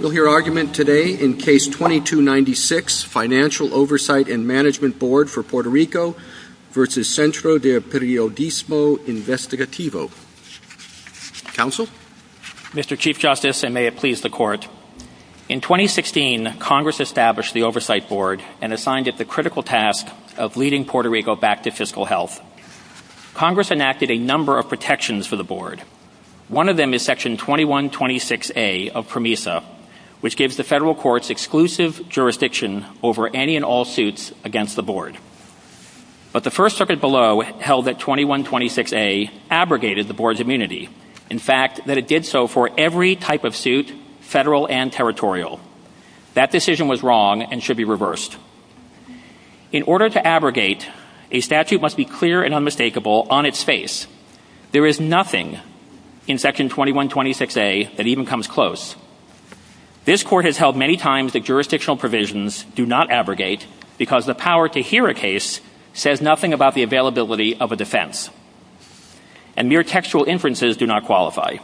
We'll hear argument today in Case 2296, Financial Oversight and Management Board for Puerto Rico v. Centro de Periodismo Investigativo. Counsel? Mr. Chief Justice, and may it please the Court, in 2016, Congress established the Oversight Board and assigned it the critical task of leading Puerto Rico back to fiscal health. Congress enacted a number of protections for the Board. One of them is Section 2126A of PROMESA, which gives the federal courts exclusive jurisdiction over any and all suits against the Board. But the First Circuit below held that 2126A abrogated the Board's immunity. In fact, that it did so for every type of suit, federal and territorial. That decision was wrong and should be reversed. In order to abrogate, a statute must be clear and unmistakable on its face. There is nothing in Section 2126A that even comes close. This Court has held many times that jurisdictional provisions do not abrogate because the power to hear a case says nothing about the availability of a defense. And mere textual inferences do not qualify.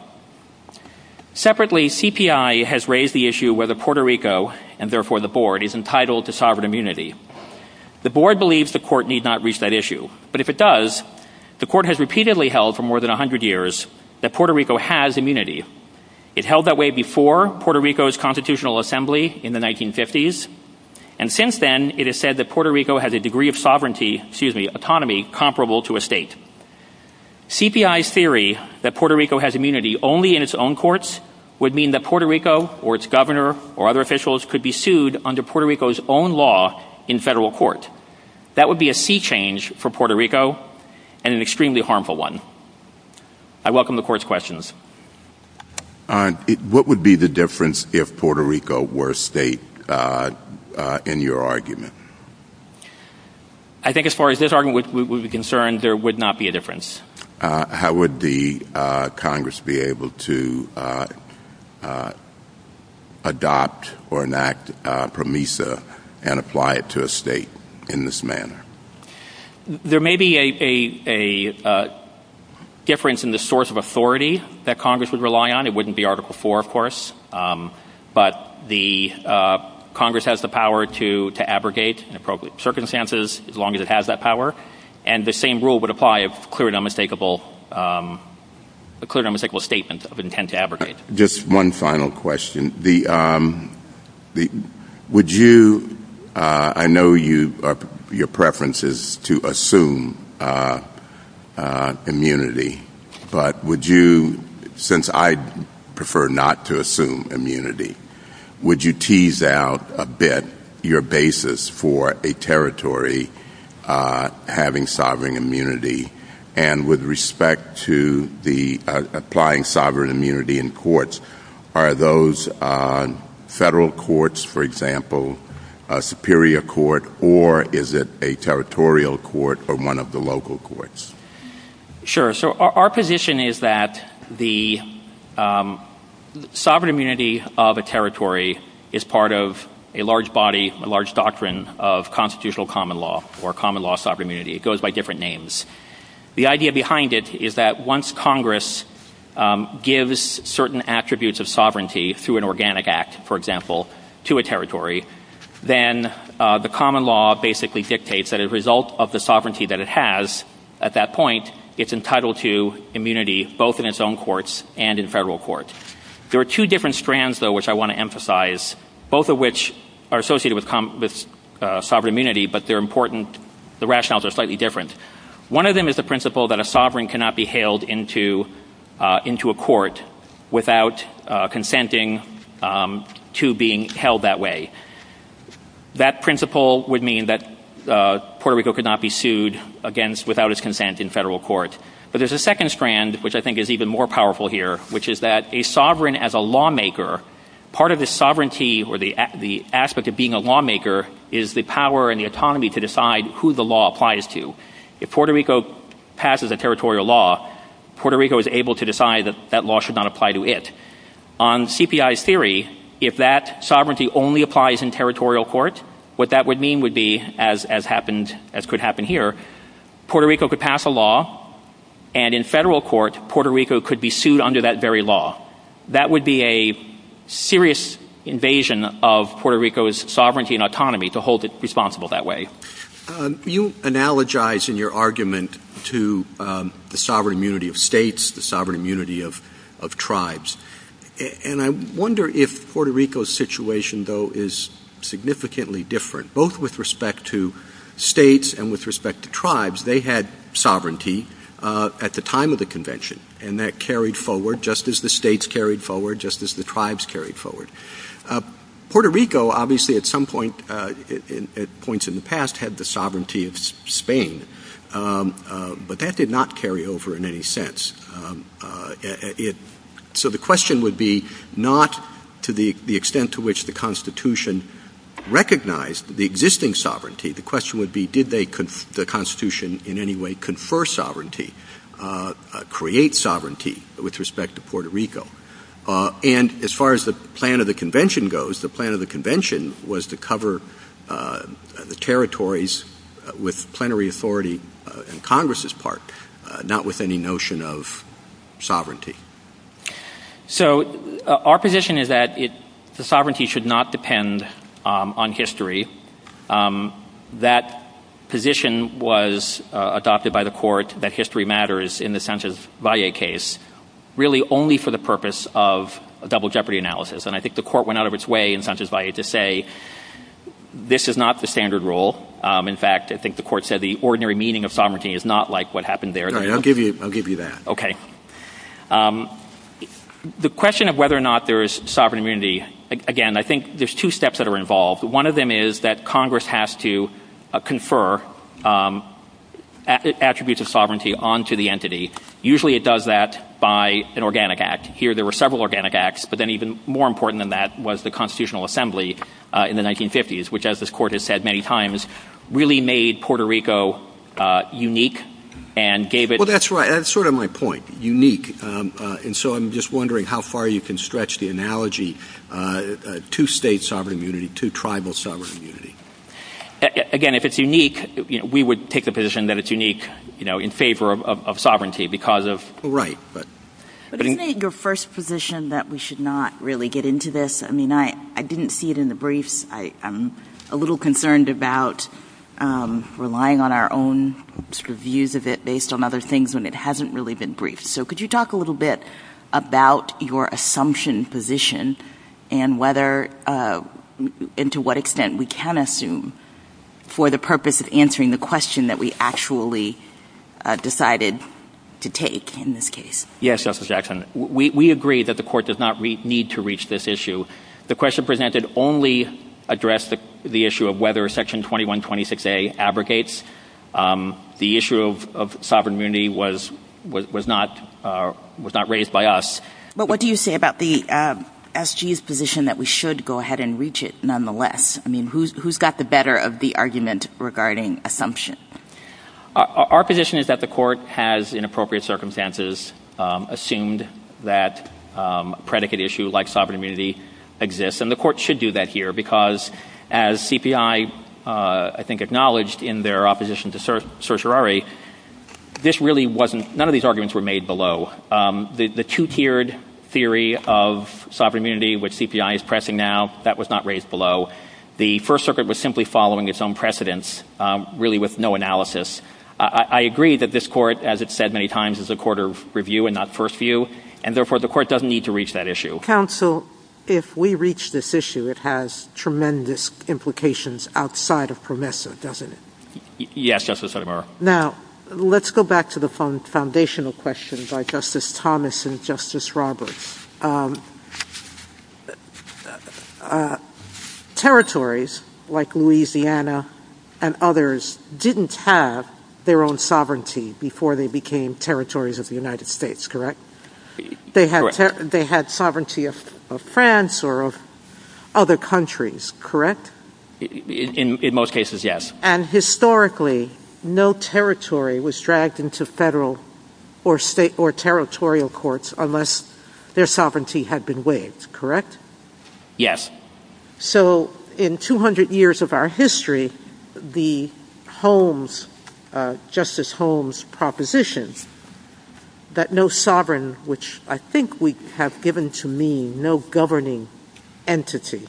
Separately, CPI has raised the issue whether Puerto Rico, and therefore the Board, is entitled to sovereign immunity. The Board believes the Court need not reach that issue. But if it does, the Court has repeatedly held for more than 100 years that Puerto Rico has immunity. It held that way before Puerto Rico's Constitutional Assembly in the 1950s. And since then, it has said that Puerto Rico has a degree of sovereignty, excuse me, autonomy comparable to a state. CPI's theory that Puerto Rico has immunity only in its own courts would mean that Puerto Rico or its governor or other officials could be sued under Puerto Rico's own law in federal court. That would be a sea change for Puerto Rico and an extremely harmful one. I welcome the Court's questions. What would be the difference if Puerto Rico were a state in your argument? I think as far as this argument would be concerned, there would not be a difference. How would the Congress be able to adopt or enact PROMISA and apply it to a state in this manner? There may be a difference in the source of authority that Congress would rely on. It wouldn't be Article IV, of course. But the Congress has the power to abrogate in appropriate circumstances as long as it has that power. And the same rule would apply of clear and unmistakable statement of intent to abrogate. Just one final question. I know your preference is to assume immunity, but since I prefer not to assume immunity, would you tease out a bit your basis for a territory having sovereign immunity? And with federal courts, for example, a superior court, or is it a territorial court or one of the local courts? Sure. So our position is that the sovereign immunity of a territory is part of a large body, a large doctrine of constitutional common law or common law sovereign immunity. It goes by different names. The idea behind it is once Congress gives certain attributes of sovereignty through an organic act, for example, to a territory, then the common law basically dictates that as a result of the sovereignty that it has at that point, it's entitled to immunity both in its own courts and in federal court. There are two different strands, though, which I want to emphasize, both of which are associated with sovereign immunity, but they're important. The rationales are slightly different. One of them is the principle that a sovereign cannot be hailed into a court without consenting to being held that way. That principle would mean that Puerto Rico could not be sued against without his consent in federal court. But there's a second strand, which I think is even more powerful here, which is that a sovereign as a lawmaker, part of the sovereignty or the aspect of being a lawmaker is the power and the autonomy to decide who the law applies to. If Puerto Rico passes a territorial law, Puerto Rico is able to decide that that law should not apply to it. On CPI's theory, if that sovereignty only applies in territorial court, what that would mean would be, as could happen here, Puerto Rico could pass a law and in federal court, Puerto Rico's sovereignty and autonomy to hold it responsible that way. MR. BOUTROUS. You analogize in your argument to the sovereign immunity of states, the sovereign immunity of tribes. And I wonder if Puerto Rico's situation, though, is significantly different, both with respect to states and with respect to tribes. They had sovereignty at the time of the convention, and that carried forward, just as the states carried forward, just as the tribes carried forward. Puerto Rico, obviously, at some point, at points in the past, had the sovereignty of Spain. But that did not carry over in any sense. So the question would be not to the extent to which the Constitution recognized the existing sovereignty. The question would be, did the Constitution in any way confer sovereignty, create sovereignty with respect to Puerto Rico? And as far as the plan of the convention goes, the plan of the convention was to cover the territories with plenary authority on Congress's part, not with any notion of sovereignty. MR. ZUNIGA. So our position is that the sovereignty should not depend on history. That position was adopted by the court that history matters in the Sanchez Valle case, really only for the purpose of a double jeopardy analysis. And I think the court went out of its way in Sanchez Valle to say, this is not the standard rule. In fact, I think the court said the ordinary meaning of sovereignty is not like what happened there. MR. SCHNEIDER. All right, I'll give you that. MR. ZUNIGA. Okay. The question of whether or not there is sovereign immunity, again, I think there's two steps that are involved. One of them is that Congress has to confer attributes of sovereign immunity. And the other one is that the Constitutional Assembly in the 1950s, which, as this Court has said many times, really made Puerto Rico unique and gave it- MR. SCHNEIDER. Well, that's right. That's sort of my point, unique. And so I'm just wondering how far you can stretch the analogy to state sovereign immunity, to tribal sovereign immunity. MR. ZUNIGA. Again, if it's unique, we would take the position that it's unique, you know, in favor of sovereignty because of- MR. SCHNEIDER. Right. But isn't it your first position that we should not really get into this? I mean, I didn't see it in the briefs. I'm a little concerned about relying on our own sort of views of it based on other things when it hasn't really been briefed. So could you talk a little bit about your assumption position and whether and to what extent we can assume for the purpose of answering the question that we actually decided to take in this case? MR. ZUNIGA. Yes, Justice Jackson. We agree that the Court does not need to reach this issue. The question presented only addressed the issue of whether Section 2126a abrogates. The issue of sovereign immunity was not raised by us. MR. SCHNEIDER. But what do you say about the S.G.'s position that we should go ahead and assume? MR. ZUNIGA. Our position is that the Court has, in appropriate circumstances, assumed that a predicate issue like sovereign immunity exists. And the Court should do that here because as CPI, I think, acknowledged in their opposition to certiorari, this really wasn't- none of these arguments were made below. The two-tiered theory of sovereign immunity, which CPI is pressing now, that was not raised below. The First Circuit was simply following its own precedents, really with no analysis. I agree that this Court, as it's said many times, is a court of review and not first view, and therefore the Court doesn't need to reach that JUSTICE SOTOMAYOR. Counsel, if we reach this issue, it has tremendous implications outside of PROMESA, doesn't it? MR. ZUNIGA. Yes, Justice Sotomayor. JUSTICE SOTOMAYOR. Now, let's go back to the foundational question by Justice Thomas and and others didn't have their own sovereignty before they became territories of the United States, correct? They had sovereignty of France or of other countries, correct? MR. ZUNIGA. In most cases, yes. JUSTICE SOTOMAYOR. And historically, no territory was dragged into federal or state or territorial courts unless their sovereignty had been waived, correct? MR. ZUNIGA. Yes. JUSTICE SOTOMAYOR. So in 200 years of our history, the Holmes, Justice Holmes' propositions that no sovereign, which I think we have given to mean no governing entity,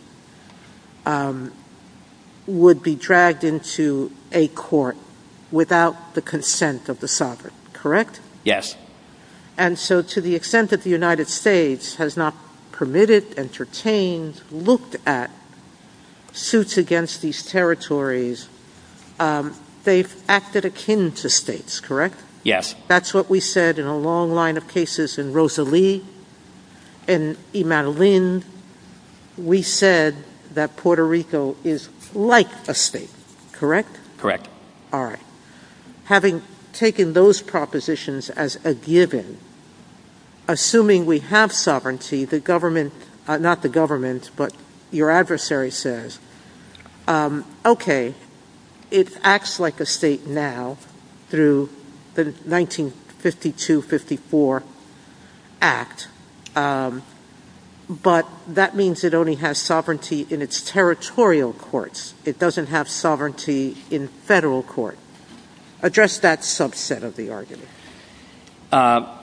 would be dragged into a court without the consent of the sovereign, correct? MR. ZUNIGA. Yes. JUSTICE SOTOMAYOR. And so to the extent that the United States has not permitted, entertained, looked at suits against these territories, they've acted akin to states, correct? MR. ZUNIGA. Yes. JUSTICE SOTOMAYOR. That's what we said in a long line of cases in Rosalie, in Imanolin. We said that Puerto Rico is like a state, correct? MR. ZUNIGA. Correct. JUSTICE SOTOMAYOR. All right. Having taken those propositions as a given, assuming we have sovereignty, the government, not the government, but your adversary says, okay, it acts like a state now through the 1952-54 Act, but that means it only has sovereignty in its territorial courts. It doesn't have sovereignty in federal court. Address that subset of the argument. MR. ZUNIGA.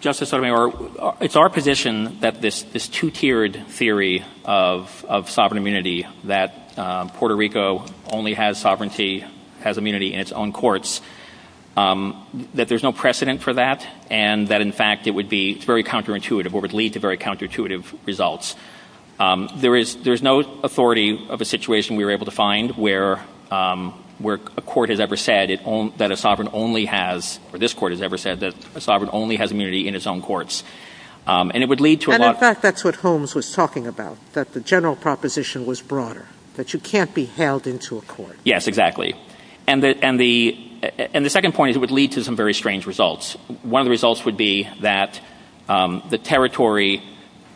Justice Sotomayor, it's our position that this two-tiered theory of sovereign immunity, that Puerto Rico only has sovereignty, has immunity in its own courts, that there's no precedent for that and that, in fact, it would be very counterintuitive or would lead to very counterintuitive results. There is no authority of a situation we were able to find where a court has ever said that a sovereign only has, or this court has ever said that a sovereign only has immunity in its own courts. And it would lead to a lot of— JUSTICE SOTOMAYOR. And, in fact, that's what Holmes was talking about, that the general proposition was broader, that you can't be held into a court. MR. ZUNIGA. Yes, exactly. And the second point is it would lead to some very strange results. One of the results would be that the territory,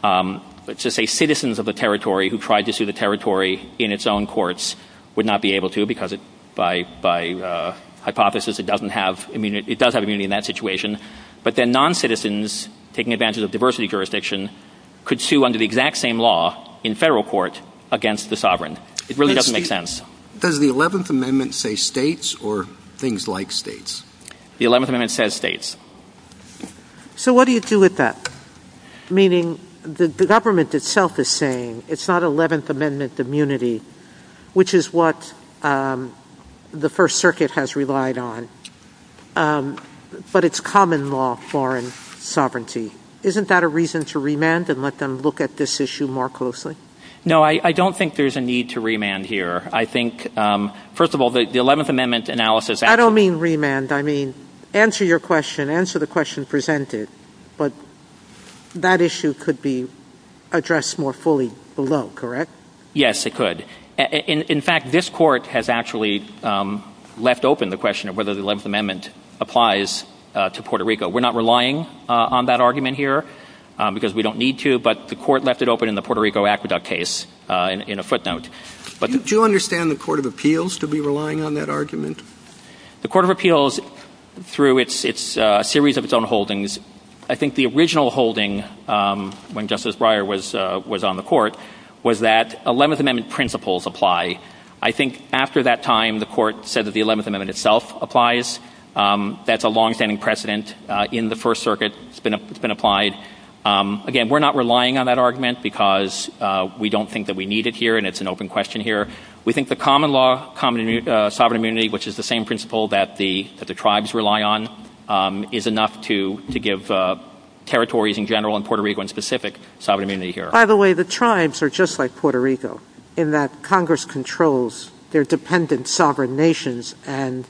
let's just say citizens of the territory who tried to sue the territory in its own courts would not be able to because, by hypothesis, it doesn't have immunity—it does have immunity in that situation. But then noncitizens taking advantage of diversity jurisdiction could sue under the exact same law in federal court against the sovereign. It really doesn't make sense. JUSTICE KENNEDY. Does the 11th Amendment say states or things like states? MR. ZUNIGA. The 11th Amendment says states. JUSTICE SOTOMAYOR. So what do you do with that? Meaning the government itself is saying it's not 11th Amendment immunity, which is what the First Circuit has relied on, but it's common law foreign sovereignty. Isn't that a reason to remand and let them look at this issue more closely? MR. ZUNIGA. No, I don't think there's a need to remand here. I think, first of all, the 11th Amendment analysis— I mean, answer your question, answer the question presented, but that issue could be addressed more fully below, correct? MR. ZUNIGA. Yes, it could. In fact, this Court has actually left open the question of whether the 11th Amendment applies to Puerto Rico. We're not relying on that argument here because we don't need to, but the Court left it open in the Puerto Rico aqueduct case in a footnote. JUSTICE SOTOMAYOR. Do you understand the Court of Appeals to be relying on that argument? MR. ZUNIGA. The Court of Appeals, through a series of its own holdings, I think the original holding when Justice Breyer was on the Court was that 11th Amendment principles apply. I think after that time, the Court said that the 11th Amendment itself applies. That's a longstanding precedent in the First Circuit. It's been applied. Again, we're not relying on that argument because we don't think that we need it here, and it's an open question here. We think the common law, sovereign immunity, which is the same principle that the tribes rely on, is enough to give territories in general in Puerto Rico and specific sovereign immunity here. JUSTICE SOTOMAYOR. By the way, the tribes are just like Puerto Rico in that Congress controls their dependent sovereign nations, and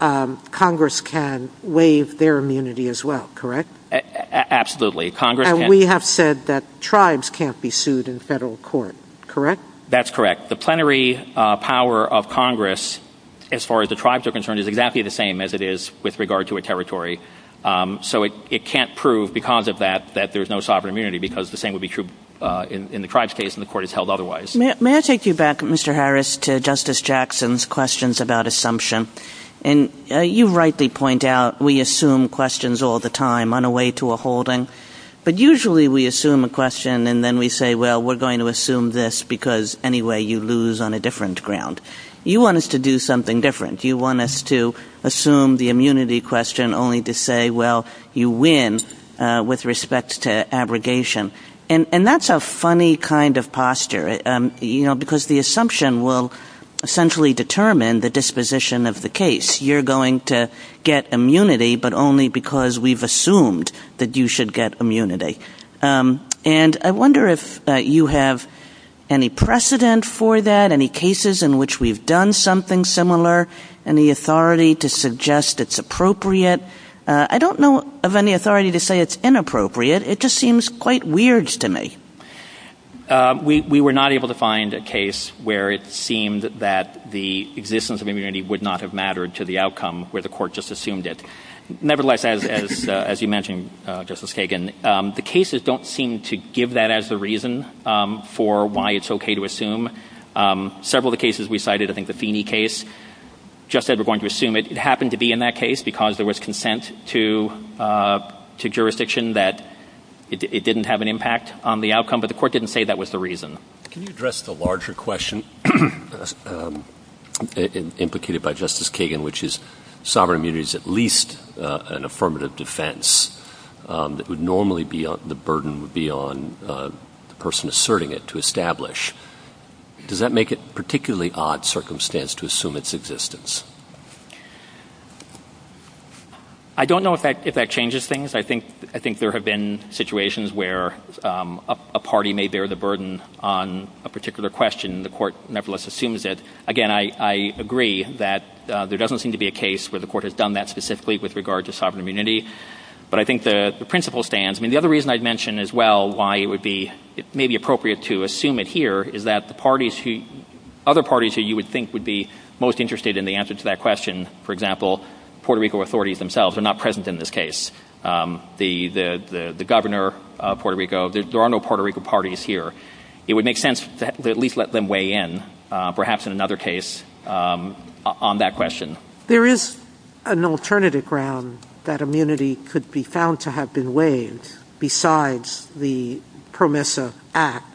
Congress can waive their immunity as well, correct? MR. ZUNIGA. Absolutely. Congress can. JUSTICE SOTOMAYOR. And we have said that tribes can't be sued in federal court, correct? MR. ZUNIGA. That's correct. The plenary power of Congress, as far as the tribes are concerned, is exactly the same as it is with regard to a territory. So it can't prove because of that that there's no sovereign immunity because the same would be true in the tribes' case, and the Court has held otherwise. KAGAN. May I take you back, Mr. Harris, to Justice Jackson's questions about assumption? And you rightly point out we assume questions all the time on a way to a holding, but usually we assume a question and then we say, well, we're going to assume this because anyway you lose on a different ground. You want us to do something different. You want us to assume the immunity question only to say, well, you win with respect to abrogation. And that's a funny kind of posture, you know, because the assumption will essentially determine the disposition of the case. You're going to get immunity but only because we've assumed that you should get immunity. And I wonder if you have any precedent for that, any cases in which we've done something similar, any authority to suggest it's appropriate. I don't know of any authority to say it's inappropriate. It just seems quite weird to me. HARRIS. We were not able to find a case where it seemed that the existence of immunity would have mattered to the outcome where the court just assumed it. Nevertheless, as you mentioned, Justice Kagan, the cases don't seem to give that as the reason for why it's okay to assume. Several of the cases we cited, I think the Feeney case, just said we're going to assume it. It happened to be in that case because there was consent to jurisdiction that it didn't have an impact on the outcome, but the court didn't say that was the reason. Can you address the larger question implicated by Justice Kagan, which is sovereign immunity is at least an affirmative defense that would normally be the burden would be on the person asserting it to establish. Does that make it a particularly odd circumstance to assume its existence? I don't know if that changes things. I think there have been situations where a party may bear the particular question and the court nevertheless assumes it. Again, I agree that there doesn't seem to be a case where the court has done that specifically with regard to sovereign immunity, but I think the principle stands. The other reason I'd mention as well why it may be appropriate to assume it here is that other parties who you would think would be most interested in the answer to that question, for example, Puerto Rico authorities themselves are not present in this case. It would make sense to at least let them weigh in perhaps in another case on that question. There is an alternative ground that immunity could be found to have been waived besides the PROMESA Act,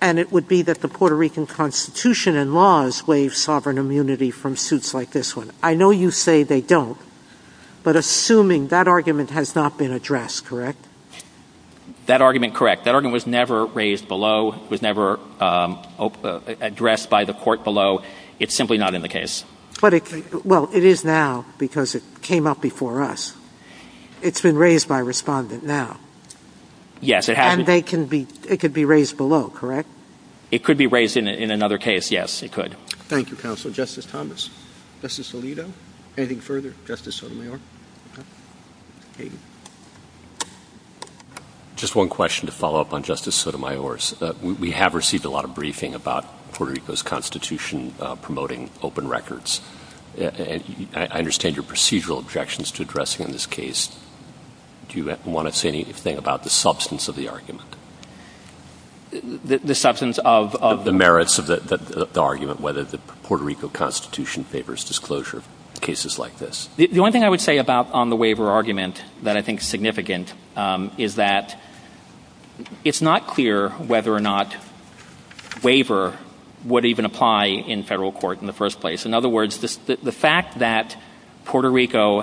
and it would be that the Puerto Rican Constitution and laws waive sovereign immunity from suits like this one. I know you say they don't, but assuming that argument has not been addressed, correct? That argument, correct. That argument was never raised below. It was never addressed by the court below. It's simply not in the case. Well, it is now because it came up before us. It's been raised by a respondent now. Yes, it has. And it could be raised below, correct? It could be raised in another case, yes, it could. Thank you, counsel. Justice Thomas. Justice Alito. Anything further? Justice Sotomayor. Just one question to follow up on Justice Sotomayor's. We have received a lot of briefing about Puerto Rico's Constitution promoting open records. I understand your procedural objections to addressing in this case. Do you want to say anything about the substance of the argument? The substance of? The merits of the argument, whether the Puerto Rico Constitution favors disclosure of cases like this. The only thing I would say about on the waiver argument that I think is significant is that it's not clear whether or not waiver would even apply in federal court in the first place. In other words, the fact that Puerto Rico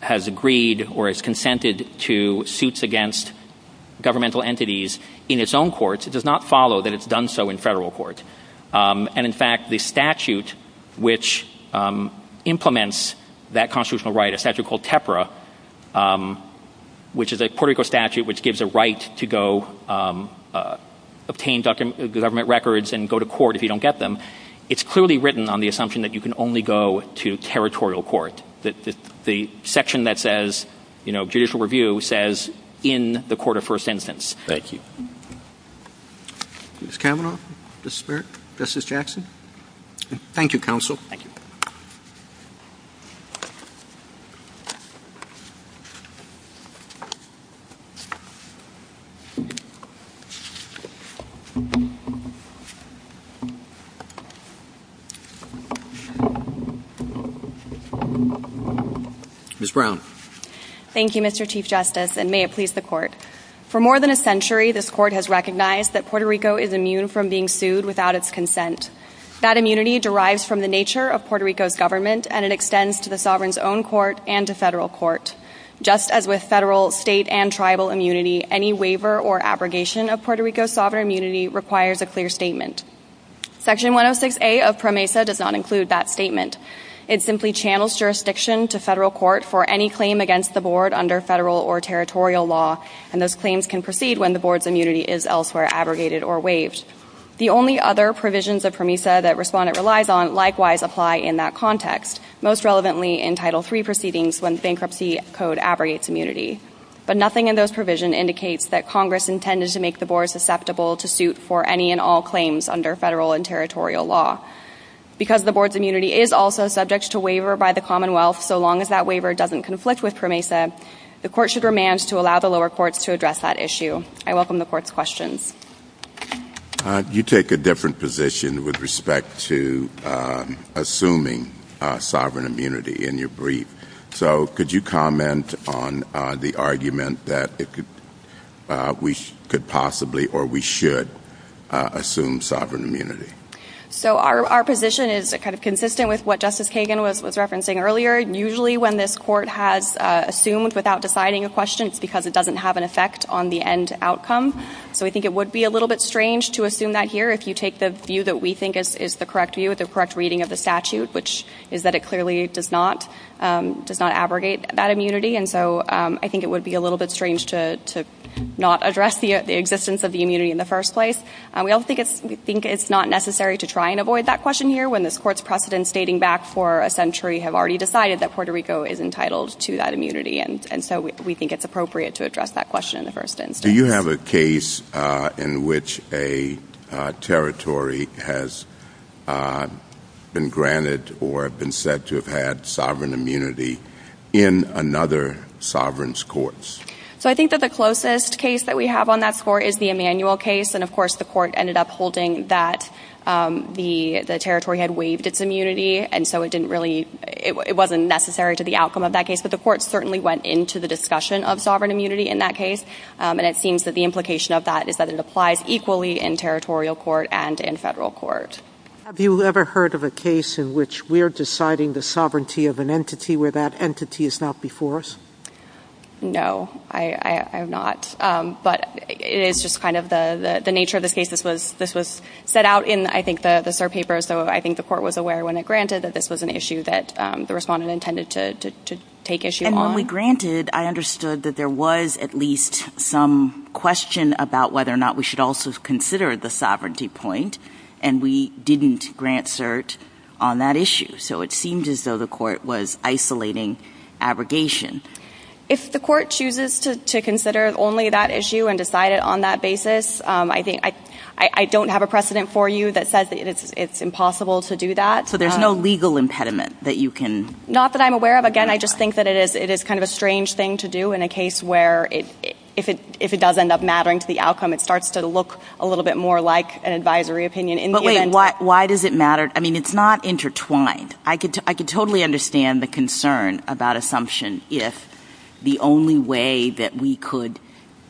has agreed or has consented to suits against governmental entities in its own courts, it does not follow that it's done so in federal court. And in fact, the statute which implements that constitutional right, a statute called TEPRA, which is a Puerto Rico statute which gives a right to go obtain government records and go to court if you don't get them, it's clearly written on the assumption that you can only go to territorial court. The section that says judicial review says in the court of first instance. Thank you. Ms. Kavanaugh, Mr. Smear, Justice Jackson. Thank you, counsel. Ms. Brown. Thank you, Mr. Chief Justice, and may it please the court. For more than a century, this court has recognized that Puerto Rico is immune from being sued without its consent. That immunity derives from the nature of Puerto Rico's government and it extends to the sovereign's own court and to federal court. Just as with federal, state, and tribal immunity, any waiver or abrogation of Puerto Rico's sovereign immunity requires a clear statement. Section 106A of PROMESA does not include that statement. It simply channels jurisdiction to when the board's immunity is elsewhere abrogated or waived. The only other provisions of PROMESA that Respondent relies on likewise apply in that context, most relevantly in Title III proceedings when bankruptcy code abrogates immunity. But nothing in those provisions indicates that Congress intended to make the board susceptible to suit for any and all claims under federal and territorial law. Because the board's immunity is also subject to waiver by the Commonwealth, so long as that waiver doesn't conflict with PROMESA, the court should remand to allow the courts to address that issue. I welcome the court's questions. You take a different position with respect to assuming sovereign immunity in your brief. So, could you comment on the argument that we could possibly or we should assume sovereign immunity? So, our position is kind of consistent with what Justice Kagan was referencing earlier. Usually, when this court has assumed without deciding a question, it's because it doesn't have an effect on the end outcome. So, I think it would be a little bit strange to assume that here if you take the view that we think is the correct view, the correct reading of the statute, which is that it clearly does not abrogate that immunity. And so, I think it would be a little bit strange to not address the existence of the immunity in the first place. We also think it's not necessary to try and avoid that question here when this court's precedents dating back for a Puerto Rico is entitled to that immunity. And so, we think it's appropriate to address that question in the first instance. Do you have a case in which a territory has been granted or been said to have had sovereign immunity in another sovereign's courts? So, I think that the closest case that we have on that score is the Emanuel case. And of course, the court ended up that the territory had waived its immunity. And so, it didn't really, it wasn't necessary to the outcome of that case. But the court certainly went into the discussion of sovereign immunity in that case. And it seems that the implication of that is that it applies equally in territorial court and in federal court. Have you ever heard of a case in which we're deciding the sovereignty of an entity where that entity is not before us? No, I have not. But it is just kind of the nature of this case. This was set out in, I think, the cert papers. So, I think the court was aware when it granted that this was an issue that the respondent intended to take issue on. And when we granted, I understood that there was at least some question about whether or not we should also consider the sovereignty point. And we didn't grant cert on that issue. So, it seemed as though the court was isolating abrogation. If the court chooses to consider only that issue and decide it on that basis, I think, I don't have a precedent for you that says that it's impossible to do that. So, there's no legal impediment that you can... Not that I'm aware of. Again, I just think that it is kind of a strange thing to do in a case where if it does end up mattering to the outcome, it starts to look a little bit more like an advisory opinion. But wait, why does it matter? I mean, it's not intertwined. I could totally understand the concern about assumption if the only way that we could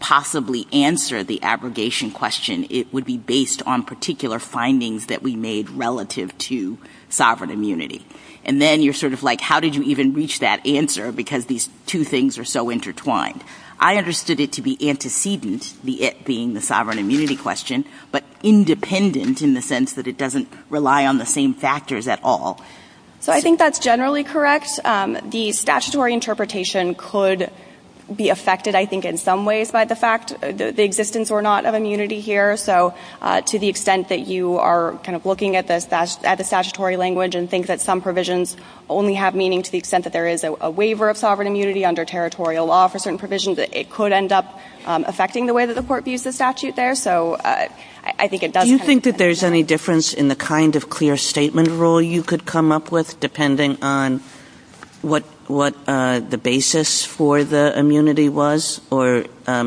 possibly answer the abrogation question, it would be based on particular findings that we made relative to sovereign immunity. And then, you're sort of like, how did you even reach that answer because these two things are so intertwined? I understood it to be antecedent, the it being the sovereign immunity question, but independent in the sense that it doesn't rely on the same factors at all. So, I think that's generally correct. The abrogation could be affected, I think, in some ways by the fact, the existence or not of immunity here. So, to the extent that you are kind of looking at the statutory language and think that some provisions only have meaning to the extent that there is a waiver of sovereign immunity under territorial law for certain provisions, that it could end up affecting the way that the court views the statute there. So, I think it does... Do you think that there's any difference in the kind of clear statement rule you could come up with, depending on what the basis for the immunity was? Or,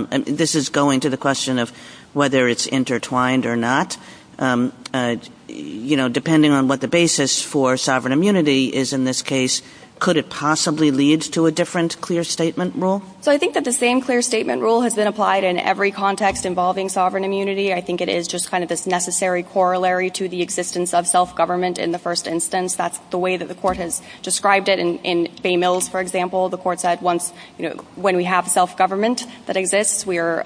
this is going to the question of whether it's intertwined or not. You know, depending on what the basis for sovereign immunity is in this case, could it possibly lead to a different clear statement rule? So, I think that the same clear statement rule has been applied in every context involving sovereign immunity. I think it is just kind of this necessary corollary to the existence of self-government in the first instance. That's the way that the court has described it in Bay Mills, for example. The court said once, you know, when we have self-government that exists, we are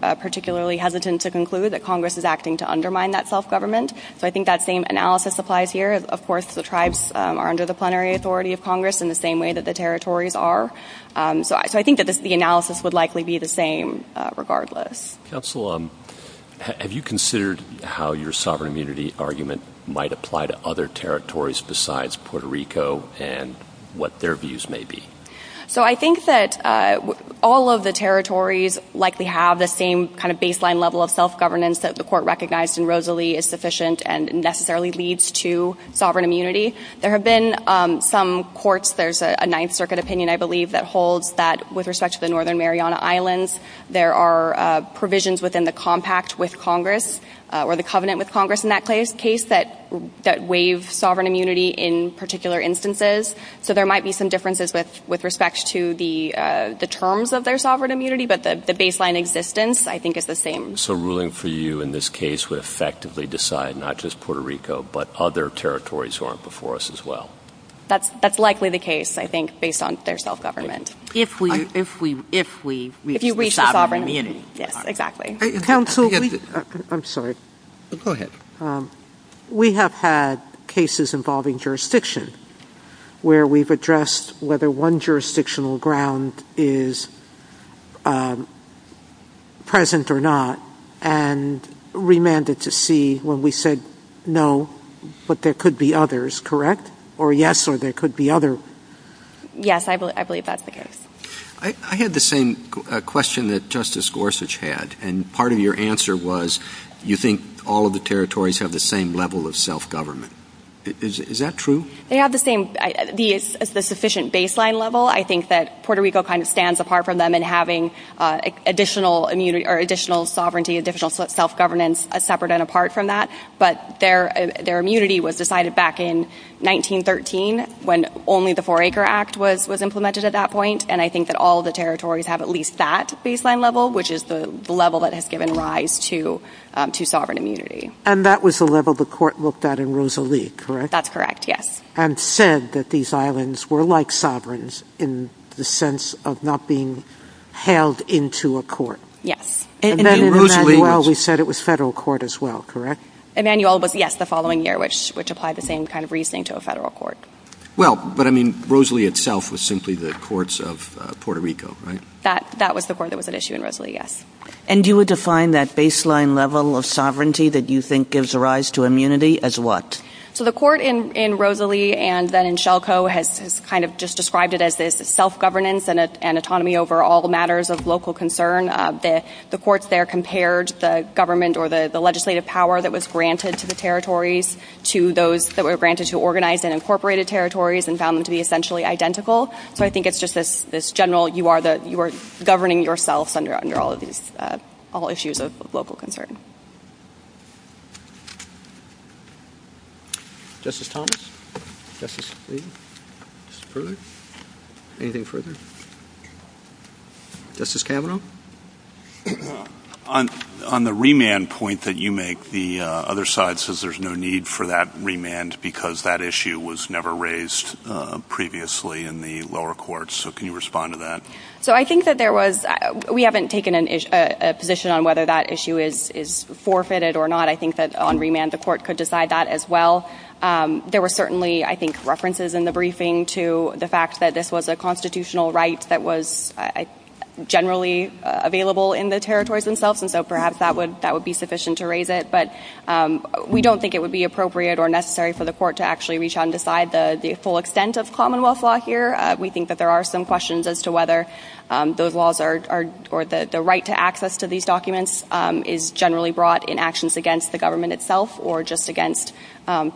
particularly hesitant to conclude that Congress is acting to undermine that self-government. So, I think that same analysis applies here. Of course, the tribes are under the plenary authority of Congress in the same way that the territories are. So, I think that the analysis would likely be the same, regardless. Counsel, have you considered how your sovereign immunity argument might apply to other territories besides Puerto Rico and what their views may be? So, I think that all of the territories likely have the same kind of baseline level of self-governance that the court recognized in Rosalie is sufficient and necessarily leads to sovereign immunity. There have been some courts, there's a Ninth Circuit opinion, I believe, that holds that with respect to the Northern Mariana Islands, there are provisions within the compact with Congress or the covenant with Congress in that case that waive sovereign immunity in particular instances. So, there might be some differences with respect to the terms of their sovereign immunity, but the baseline existence, I think, is the same. So, ruling for you in this case would effectively decide not just Puerto Rico, but other territories who aren't before us as well? That's likely the case, I think, based on their self-government. If we reach the sovereign immunity. Yes, exactly. Counsel, I'm sorry. Go ahead. We have had cases involving jurisdiction where we've addressed whether one jurisdictional ground is present or not and remanded to see when we said, no, but there could be others, correct? Or yes, or there could be other. Yes, I believe that's the case. I had the same question that Justice Gorsuch had, and part of your answer was, you think all of the territories have the same level of self-government. Is that true? They have the same, the sufficient baseline level. I think that Puerto Rico kind of stands apart from them in having additional sovereignty, additional self-governance separate and apart from that, but their immunity was decided back in 1913 when only the four acre act was implemented at that point. And I think that all of the territories have at least that baseline level, which is the level that has given rise to sovereign immunity. And that was the level the court looked at in Rosalie, correct? That's correct, yes. And said that these islands were like sovereigns in the sense of not being held into a court. Yes. And then in Emanuel, we said it was federal court as well, correct? Emanuel was, yes, the following year, which applied the same kind of reasoning to a federal court. Well, but I mean, Rosalie itself was simply the courts of Puerto Rico, right? That was the court that was at issue in Rosalie, yes. And you would define that baseline level of sovereignty that you think gives rise to immunity as what? So the court in Rosalie and then in Shelco has kind of just described it as this self-governance and autonomy over all matters of local concern. The courts there compared the government or the legislative power that was granted to the territories to those that were granted to organized and incorporated territories and found them to be essentially identical. So I think it's just this general, you are governing yourselves under all issues of local concern. Justice Thomas, Justice Lee, anything further? Justice Kavanaugh? On the remand point that you make, the other side says there's no need for that remand because that issue was never raised previously in the lower courts. So can you respond to that? So I think that there was, we haven't taken a position on whether that issue is forfeited or not. I think that on remand, the court could decide that as well. There were certainly, I think, references in the briefing to the fact that this was a constitutional right that was generally available in the territories themselves. And so perhaps that would be sufficient to raise it. But we don't think it would be appropriate or necessary for the court to actually reach out and decide the full extent of Commonwealth law here. We think that there are some questions as to whether those laws or the right to access to these documents is generally brought in actions against the government itself or just against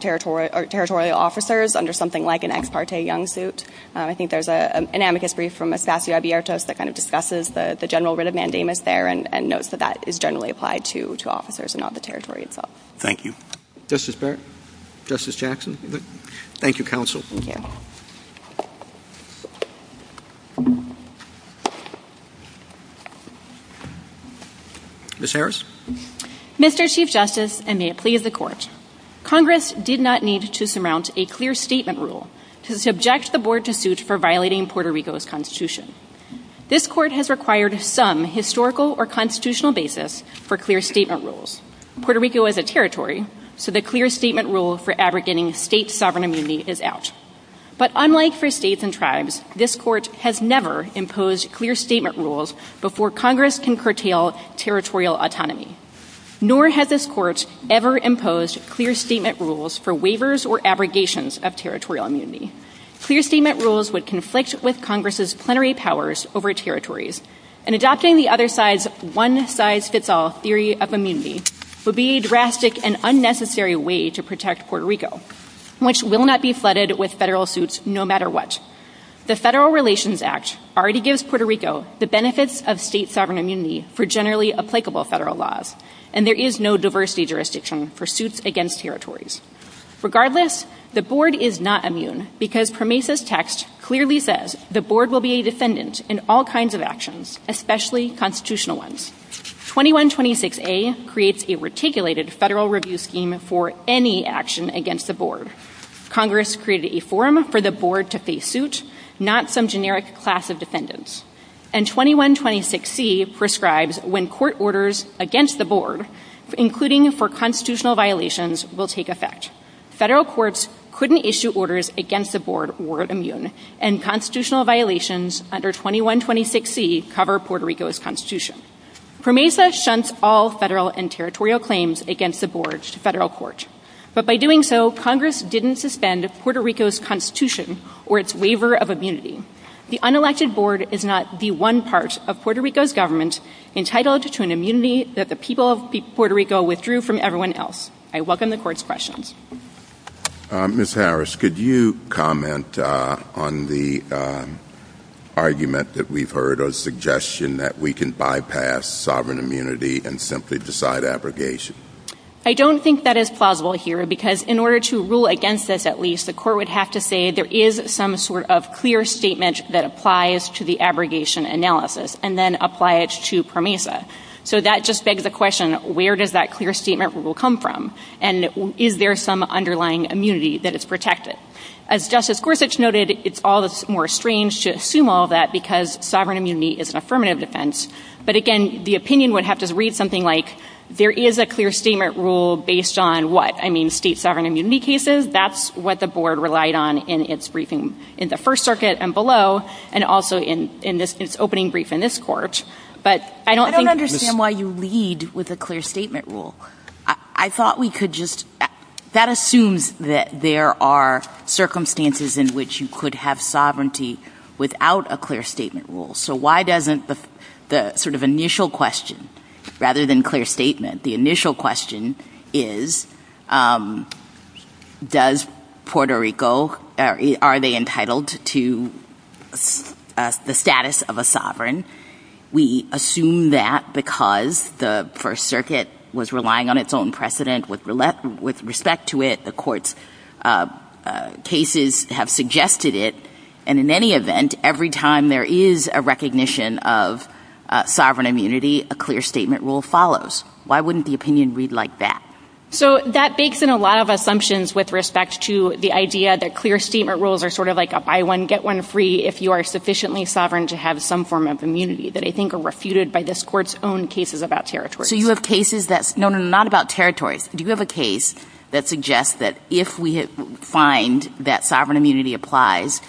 territorial officers under something like an ex parte young suit. I think there's an amicus brief from Espacio Abiertos that kind of discusses the general writ of mandamus there and notes that that is generally applied to officers and not the territory itself. Thank you. Justice Barrett? Justice Jackson? Thank you, counsel. Ms. Harris? Mr. Chief Justice, and may it please the Court, Congress did not need to surmount a clear statement rule to subject the Board to suit for violating Puerto Rico's Constitution. This Court has required some historical or constitutional basis for clear statement rules. Puerto Rico is a territory, so the clear statement rule for abrogating state sovereign immunity is out. But unlike for states and tribes, this Court has never imposed clear autonomy, nor has this Court ever imposed clear statement rules for waivers or abrogations of territorial immunity. Clear statement rules would conflict with Congress's plenary powers over territories, and adopting the other side's one-size-fits-all theory of immunity would be a drastic and unnecessary way to protect Puerto Rico, which will not be flooded with federal suits no matter what. The Federal Relations Act already gives Puerto Rico the benefits of state federal laws, and there is no diversity jurisdiction for suits against territories. Regardless, the Board is not immune because Pramesa's text clearly says the Board will be a defendant in all kinds of actions, especially constitutional ones. 2126A creates a reticulated federal review scheme for any action against the Board. Congress created a forum for the Board, including for constitutional violations will take effect. Federal courts couldn't issue orders against the Board or immune, and constitutional violations under 2126C cover Puerto Rico's constitution. Pramesa shunts all federal and territorial claims against the Board to federal court. But by doing so, Congress didn't suspend Puerto Rico's constitution or its waiver of immunity. The unelected Board is not the one part of Puerto Rico's government entitled to an immunity that the people of Puerto Rico withdrew from everyone else. I welcome the Court's questions. Ms. Harris, could you comment on the argument that we've heard or suggestion that we can bypass sovereign immunity and simply decide abrogation? I don't think that is plausible here because in order to rule against this, at least, the Court would have to say there is some sort of clear statement that applies to the abrogation analysis and then apply it to Pramesa. So that just begs the question, where does that clear statement rule come from? And is there some underlying immunity that is protected? As Justice Gorsuch noted, it's all the more strange to assume all that because sovereign immunity is an affirmative defense. But again, the opinion would have to read something like, there is a clear statement rule based on what? I mean, state sovereign immunity cases, that's what the Board relied on in its briefing in the First Circuit and below, and also in its opening brief in this Court. I don't understand why you lead with a clear statement rule. I thought we could just, that assumes that there are circumstances in which you could have sovereignty without a clear statement rule. So why doesn't the sort of question, rather than clear statement, the initial question is, does Puerto Rico, are they entitled to the status of a sovereign? We assume that because the First Circuit was relying on its own precedent with respect to it. The Court's cases have suggested it. And in any event, every time there is a recognition of sovereign immunity, a clear statement rule follows. Why wouldn't the opinion read like that? So that bakes in a lot of assumptions with respect to the idea that clear statement rules are sort of like a buy one, get one free if you are sufficiently sovereign to have some form of immunity that I think are refuted by this Court's own cases about territories. So you have cases that, no, no, not about territories. Do you have a case that suggests that if we find that sovereign immunity applies,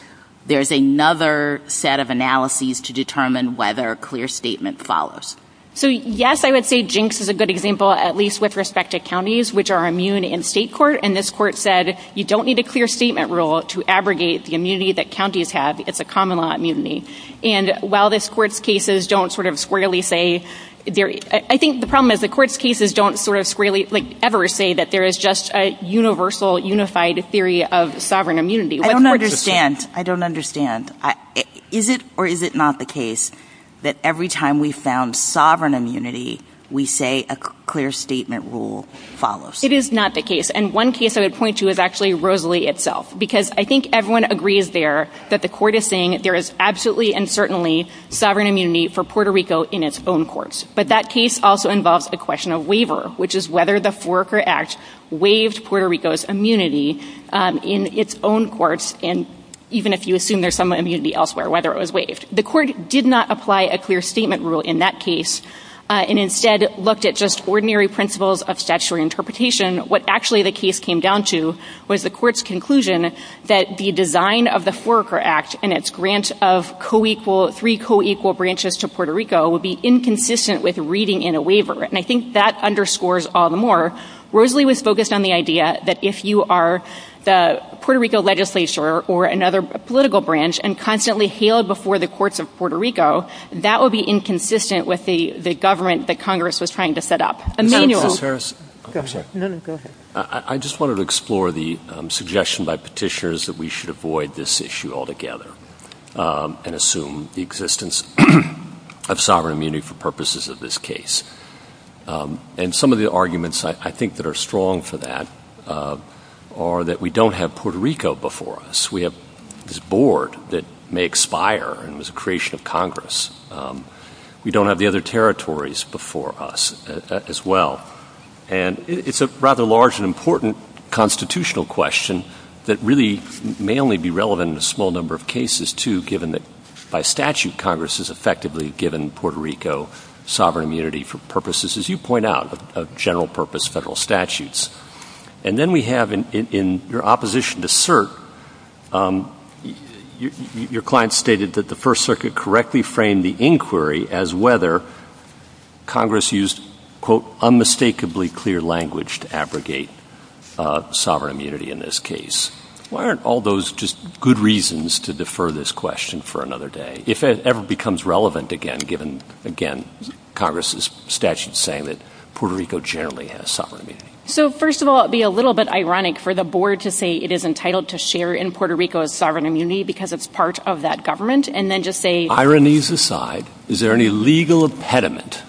there's another set of analyses to determine whether a clear statement follows? So yes, I would say Jinx is a good example, at least with respect to counties, which are immune in state court. And this Court said, you don't need a clear statement rule to abrogate the immunity that counties have. It's a common law immunity. And while this Court's cases don't sort of squarely say, I think the problem is the Court's cases don't sort of squarely ever say that there is just a universal, unified theory of sovereign immunity. I don't understand. I don't understand. Is it or is it not the case that every time we found sovereign immunity, we say a clear statement rule follows? It is not the case. And one case I would point to is actually Rosalie itself, because I think everyone agrees there that the Court is saying there is absolutely and certainly sovereign immunity for Puerto Rico in its own courts. But that case also involves a question of waiver, which is whether the Foraker Act waived Puerto Rico's immunity in its own courts, and even if you assume there's some immunity elsewhere, whether it was waived. The Court did not apply a clear statement rule in that case and instead looked at just ordinary principles of statutory interpretation. What actually the case came down to was the Court's conclusion that the design of the Foraker Act and its grant of co-equal, three co-equal branches to Puerto Rico would be inconsistent with reading in a waiver. And I think that underscores all the more, Rosalie was focused on the idea that if you are the Puerto Rico legislature or another political branch and constantly hail it before the courts of Puerto Rico, that would be inconsistent with the government that Congress was trying to set up. Emanuel. Ms. Harris? Go ahead. No, no, go ahead. I just wanted to explore the suggestion by Petitioners that we should avoid this issue altogether and assume the existence of sovereign immunity for purposes of this case. And some of the arguments I think that are strong for that are that we don't have Puerto Rico before us. We have this board that may expire and was a creation of Congress. We don't have the other territories before us as well. And it's a rather large and important constitutional question that really may only be relevant in a small number of cases, too, given that by statute Congress has effectively given Puerto Rico sovereign immunity for purposes, you point out, of general purpose federal statutes. And then we have in your opposition to cert, your client stated that the First Circuit correctly framed the inquiry as whether Congress used, quote, unmistakably clear language to abrogate sovereign immunity in this case. Why aren't all those just good reasons to defer this question for another day if it ever becomes relevant again, given, again, Congress's statute saying that Puerto Rico generally has sovereign immunity? So, first of all, it would be a little bit ironic for the board to say it is entitled to share in Puerto Rico's sovereign immunity because it's part of that government and then just say... Ironies aside, is there any legal impediment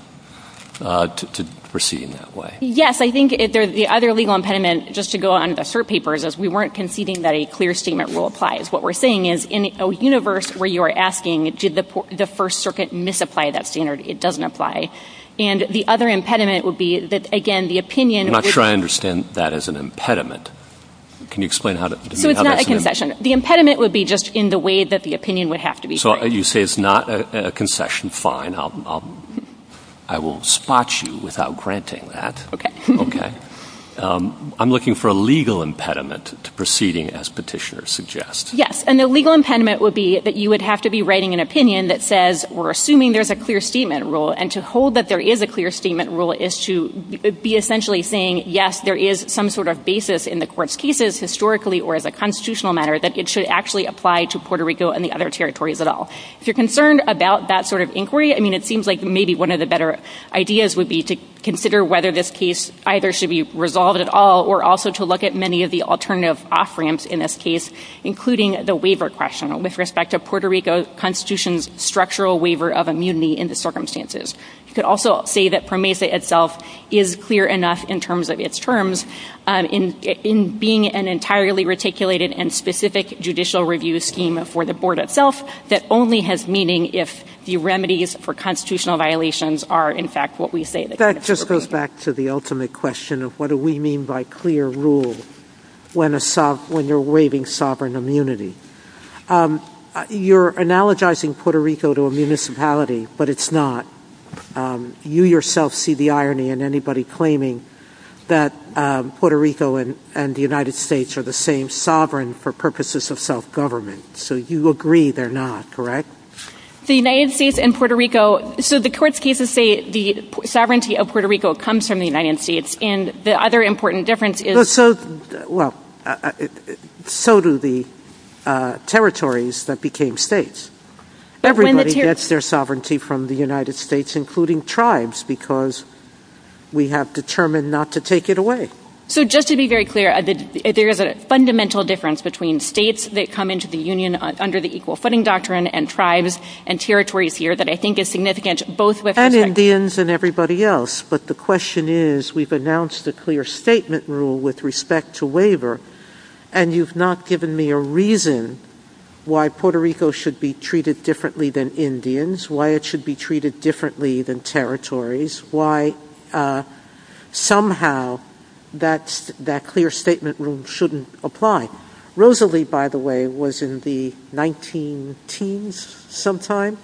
to proceeding that way? Yes, I think the other legal impediment, just to go on the cert papers, is we weren't conceding that a clear statement rule applies. What we're saying is in a universe where you're asking did the First Circuit misapply that standard, it doesn't apply. And the other impediment would be that, again, the opinion... I'm not sure I understand that as an impediment. Can you explain how that's an impediment? So it's not a concession. The impediment would be just in the way that the opinion would have to be framed. So you say it's not a concession. Fine. I will spot you without granting that. Okay. Okay. I'm looking for a legal impediment to proceeding as petitioners suggest. Yes. And the legal impediment would be that you would have to be writing an opinion that says we're assuming there's a clear statement rule. And to hold that there is a clear statement rule is to be essentially saying, yes, there is some sort of basis in the court's cases historically or as a constitutional matter that it should actually apply to Puerto Rico and the other territories at all. If you're concerned about that sort of inquiry, I mean, it seems like maybe one of the better ideas would be to consider whether this case either should be resolved at all or also to look at many of the alternative off-ramps in this case, including the waiver question with respect to Puerto Rico Constitution's structural waiver of immunity in the circumstances. You could also say that PROMESA itself is clear enough in terms of its terms in being an entirely reticulated and specific judicial review scheme for the board itself that only has meaning if the remedies for constitutional violations are, in fact, what we say. That just goes back to the ultimate question of what do we mean by clear rule when you're waiving sovereign immunity. You're analogizing Puerto Rico to a municipality, but it's not. You yourself see the irony in anybody claiming that Puerto Rico and the United States are the same sovereign for purposes of self-government. So you agree they're not, correct? The United States and Puerto Rico, so the court's cases say the sovereignty of Puerto Rico comes from the United States, and the other important difference is— So, well, so do the territories that became states. Everybody gets their sovereignty from the United States, including tribes, because we have determined not to take it away. So just to be very clear, there is a fundamental difference between states that come into the territories here that I think is significant, both with respect— And Indians and everybody else. But the question is, we've announced a clear statement rule with respect to waiver, and you've not given me a reason why Puerto Rico should be treated differently than Indians, why it should be treated differently than territories, why somehow that clear statement rule shouldn't apply. Rosalie, by the way, was in the 19-teens sometime,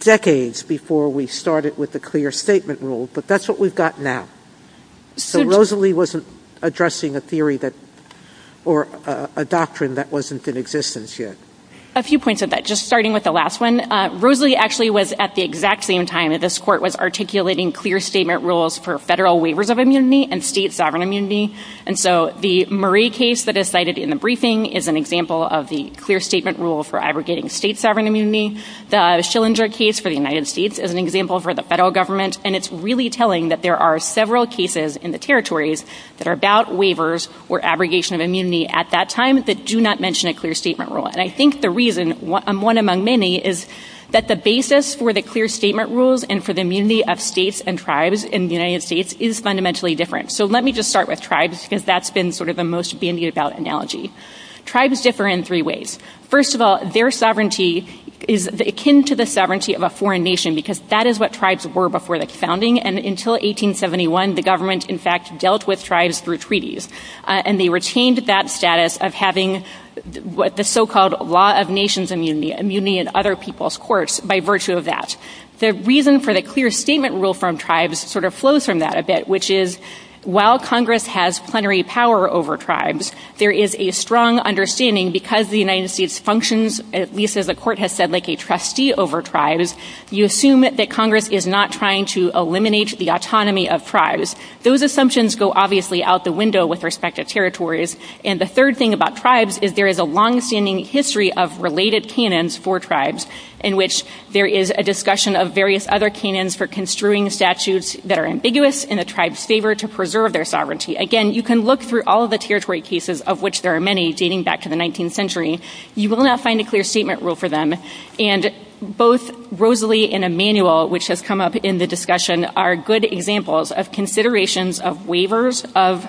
decades before we started with the clear statement rule, but that's what we've got now. So Rosalie wasn't addressing a theory that—or a doctrine that wasn't in existence yet. A few points on that, just starting with the last one. Rosalie actually was at the exact same time that this court was articulating clear statement rules for federal waivers of immunity and state sovereignty. The Murray case that is cited in the briefing is an example of the clear statement rule for abrogating state sovereign immunity. The Schillinger case for the United States is an example for the federal government, and it's really telling that there are several cases in the territories that are about waivers or abrogation of immunity at that time that do not mention a clear statement rule. And I think the reason, one among many, is that the basis for the clear statement rules and for the immunity of states and tribes in the United States is fundamentally different. So let me just start with tribes, because that's been sort of the most bandied about analogy. Tribes differ in three ways. First of all, their sovereignty is akin to the sovereignty of a foreign nation, because that is what tribes were before the founding, and until 1871 the government, in fact, dealt with tribes through treaties. And they retained that status of having what the so-called law of nations immunity, immunity in other people's courts, by virtue of that. The reason for the clear statement rule from tribes sort of flows from that a bit, which is while Congress has plenary power over tribes, there is a strong understanding because the United States functions, at least as the Court has said, like a trustee over tribes, you assume that Congress is not trying to eliminate the autonomy of tribes. Those assumptions go obviously out the window with respect to territories. And the third thing about tribes is there is a longstanding history of related canons for tribes in which there is a discussion of various other canons for construing statutes that are ambiguous in the tribe's favor to preserve their sovereignty. Again, you can look through all of the territory cases, of which there are many, dating back to the 19th century. You will not find a clear statement rule for them. And both Rosalie and Emanuel, which has come up in the discussion, are good examples of considerations of waivers of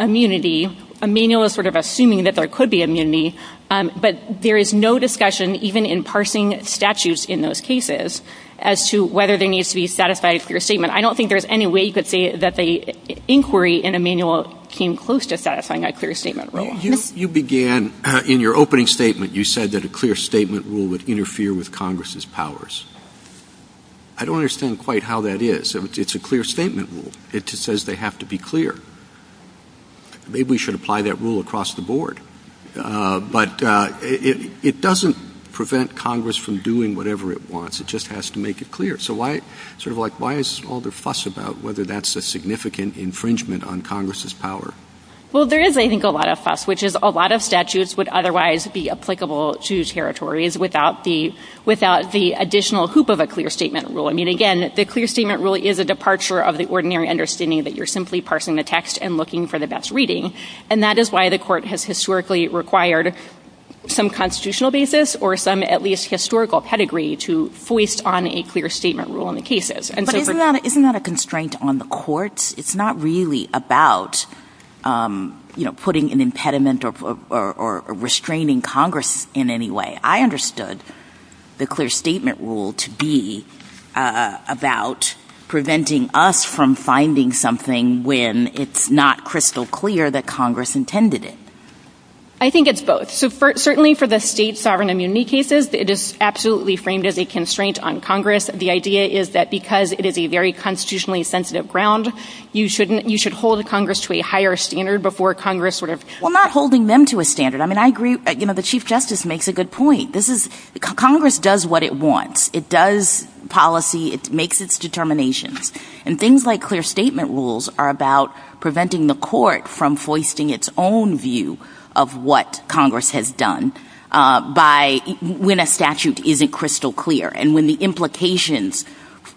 immunity. Emanuel is sort of assuming that there could be immunity, but there is no discussion, even in parsing statutes in those cases, as to whether there needs to be a satisfied clear statement. I don't think there is any way you could say that the inquiry in Emanuel came close to satisfying a clear statement rule. You began in your opening statement, you said that a clear statement rule would interfere with Congress's powers. I don't understand quite how that is. It's a clear statement rule. It says they have to be clear. Maybe we should apply that rule across the board. But it doesn't prevent Congress from doing whatever it wants. It just has to make it clear. So why is all the fuss about whether that's a significant infringement on Congress's power? Well, there is, I think, a lot of fuss, which is a lot of statutes would otherwise be applicable to territories without the additional hoop of a clear statement rule. I mean, again, the clear statement rule is a departure of the ordinary understanding that you're simply parsing the text and looking for the best reading. And that is why the some constitutional basis or some at least historical pedigree to foist on a clear statement rule in the cases. But isn't that a constraint on the courts? It's not really about, you know, putting an impediment or restraining Congress in any way. I understood the clear statement rule to be about preventing us from finding something when it's not crystal clear that Congress intended it. I think it's both. So certainly for the state sovereign immunity cases, it is absolutely framed as a constraint on Congress. The idea is that because it is a very constitutionally sensitive ground, you shouldn't you should hold Congress to a higher standard before Congress sort of. Well, not holding them to a standard. I mean, I agree. You know, the chief justice makes a good point. This is Congress does what it wants. It does policy. It makes its determinations. And things like clear statement rules are about preventing the court from foisting its own view of what Congress has done by when a statute isn't crystal clear and when the implications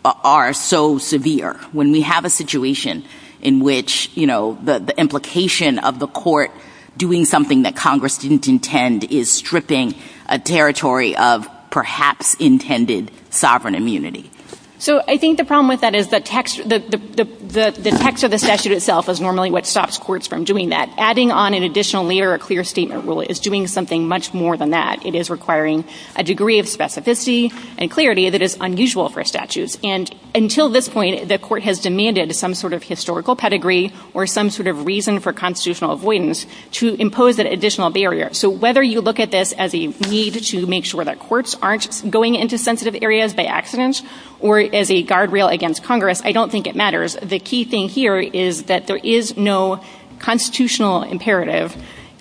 are so severe, when we have a situation in which, you know, the implication of the court doing something that Congress didn't intend is stripping a territory of perhaps intended sovereign immunity. So I think the problem with that is the text of the statute itself is normally what stops courts from doing that. Adding on an additional layer of clear statement rule is doing something much more than that. It is requiring a degree of specificity and clarity that is unusual for statutes. And until this point, the court has demanded some sort of historical pedigree or some sort of reason for constitutional avoidance to impose that additional barrier. So whether you look at this as a need to make sure that courts aren't going into sensitive areas by accident or as a guardrail against Congress, I don't think it matters. The key thing here is that there is no constitutional imperative,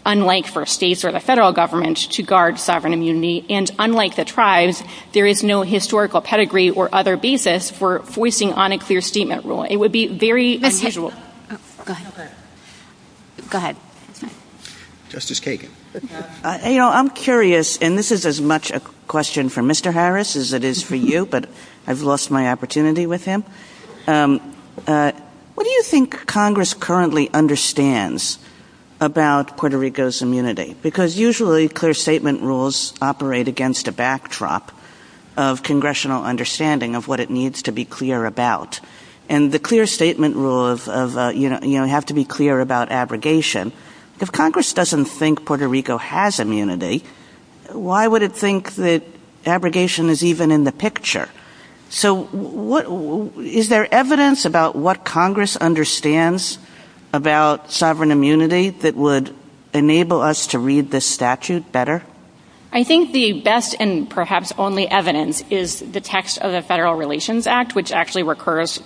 unlike for states or the federal government, to guard sovereign immunity. And unlike the tribes, there is no historical pedigree or other basis for foisting on a clear statement rule. It would be very unusual. Go ahead. Justice Kagan. You know, I'm curious, and this is as much a question for Mr. Harris as it is for you, but I've lost my opportunity with him. What do you think Congress currently understands about Puerto Rico's immunity? Because usually clear statement rules operate against a backdrop of congressional understanding of what it needs to be clear about. And the clear statement rule have to be clear about abrogation. If Congress doesn't think Puerto Rico has immunity, why would it think that abrogation is even in the picture? So is there evidence about what Congress understands about sovereign immunity that would enable us to read this statute better? I think the best and perhaps only evidence is the text of the Federal Relations Act, which actually recurs.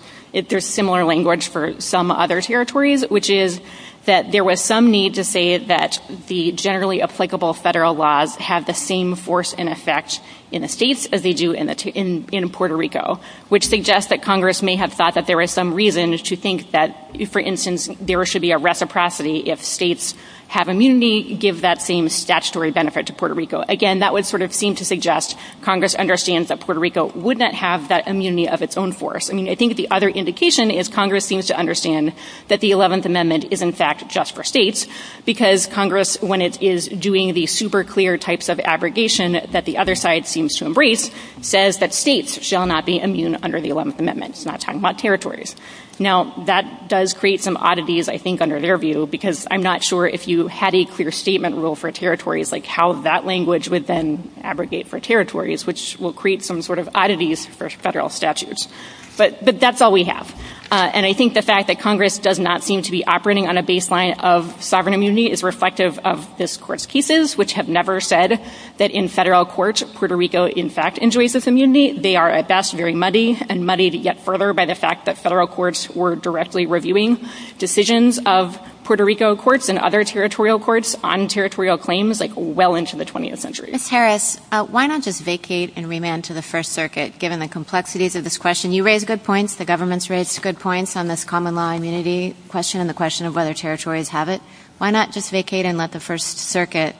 There's similar language for some other territories, which is that there was some need to say that the generally applicable federal laws have the same force and effect in the states as they do in Puerto Rico, which suggests that Congress may have thought that there was some reason to think that, for instance, there should be a reciprocity if states have immunity, give that same statutory benefit to Puerto Rico. Again, that would sort of seem to suggest Congress understands that Puerto Rico would not have that immunity of its own force. I mean, I think the other indication is Congress seems to understand that the Eleventh Amendment is, in fact, just for states, because Congress, when it is doing the super clear types of abrogation that the other side seems to embrace, says that states shall not be immune under the Eleventh Amendment. It's not talking about territories. Now, that does create some oddities, I think, under their view, because I'm not sure if you had a clear statement rule for territories, like how that language would then abrogate for territories, which will create some sort of oddities for federal statutes. But that's all we have. And I think the fact that Congress does not seem to be operating on a baseline of sovereign immunity is reflective of this Court's cases, which have never said that in federal courts, Puerto Rico, in fact, enjoys this immunity. They are, at best, very muddy, and muddied yet further by the fact that federal courts were directly reviewing decisions of Puerto Rico courts and other territorial courts on territorial claims, like well into the 20th century. Ms. Harris, why not just vacate and remand to the First Circuit, given the complexities of this question? You raised good points. The government's raised good points on this common law immunity question and the question of whether territories have it. Why not just vacate and let the First Circuit,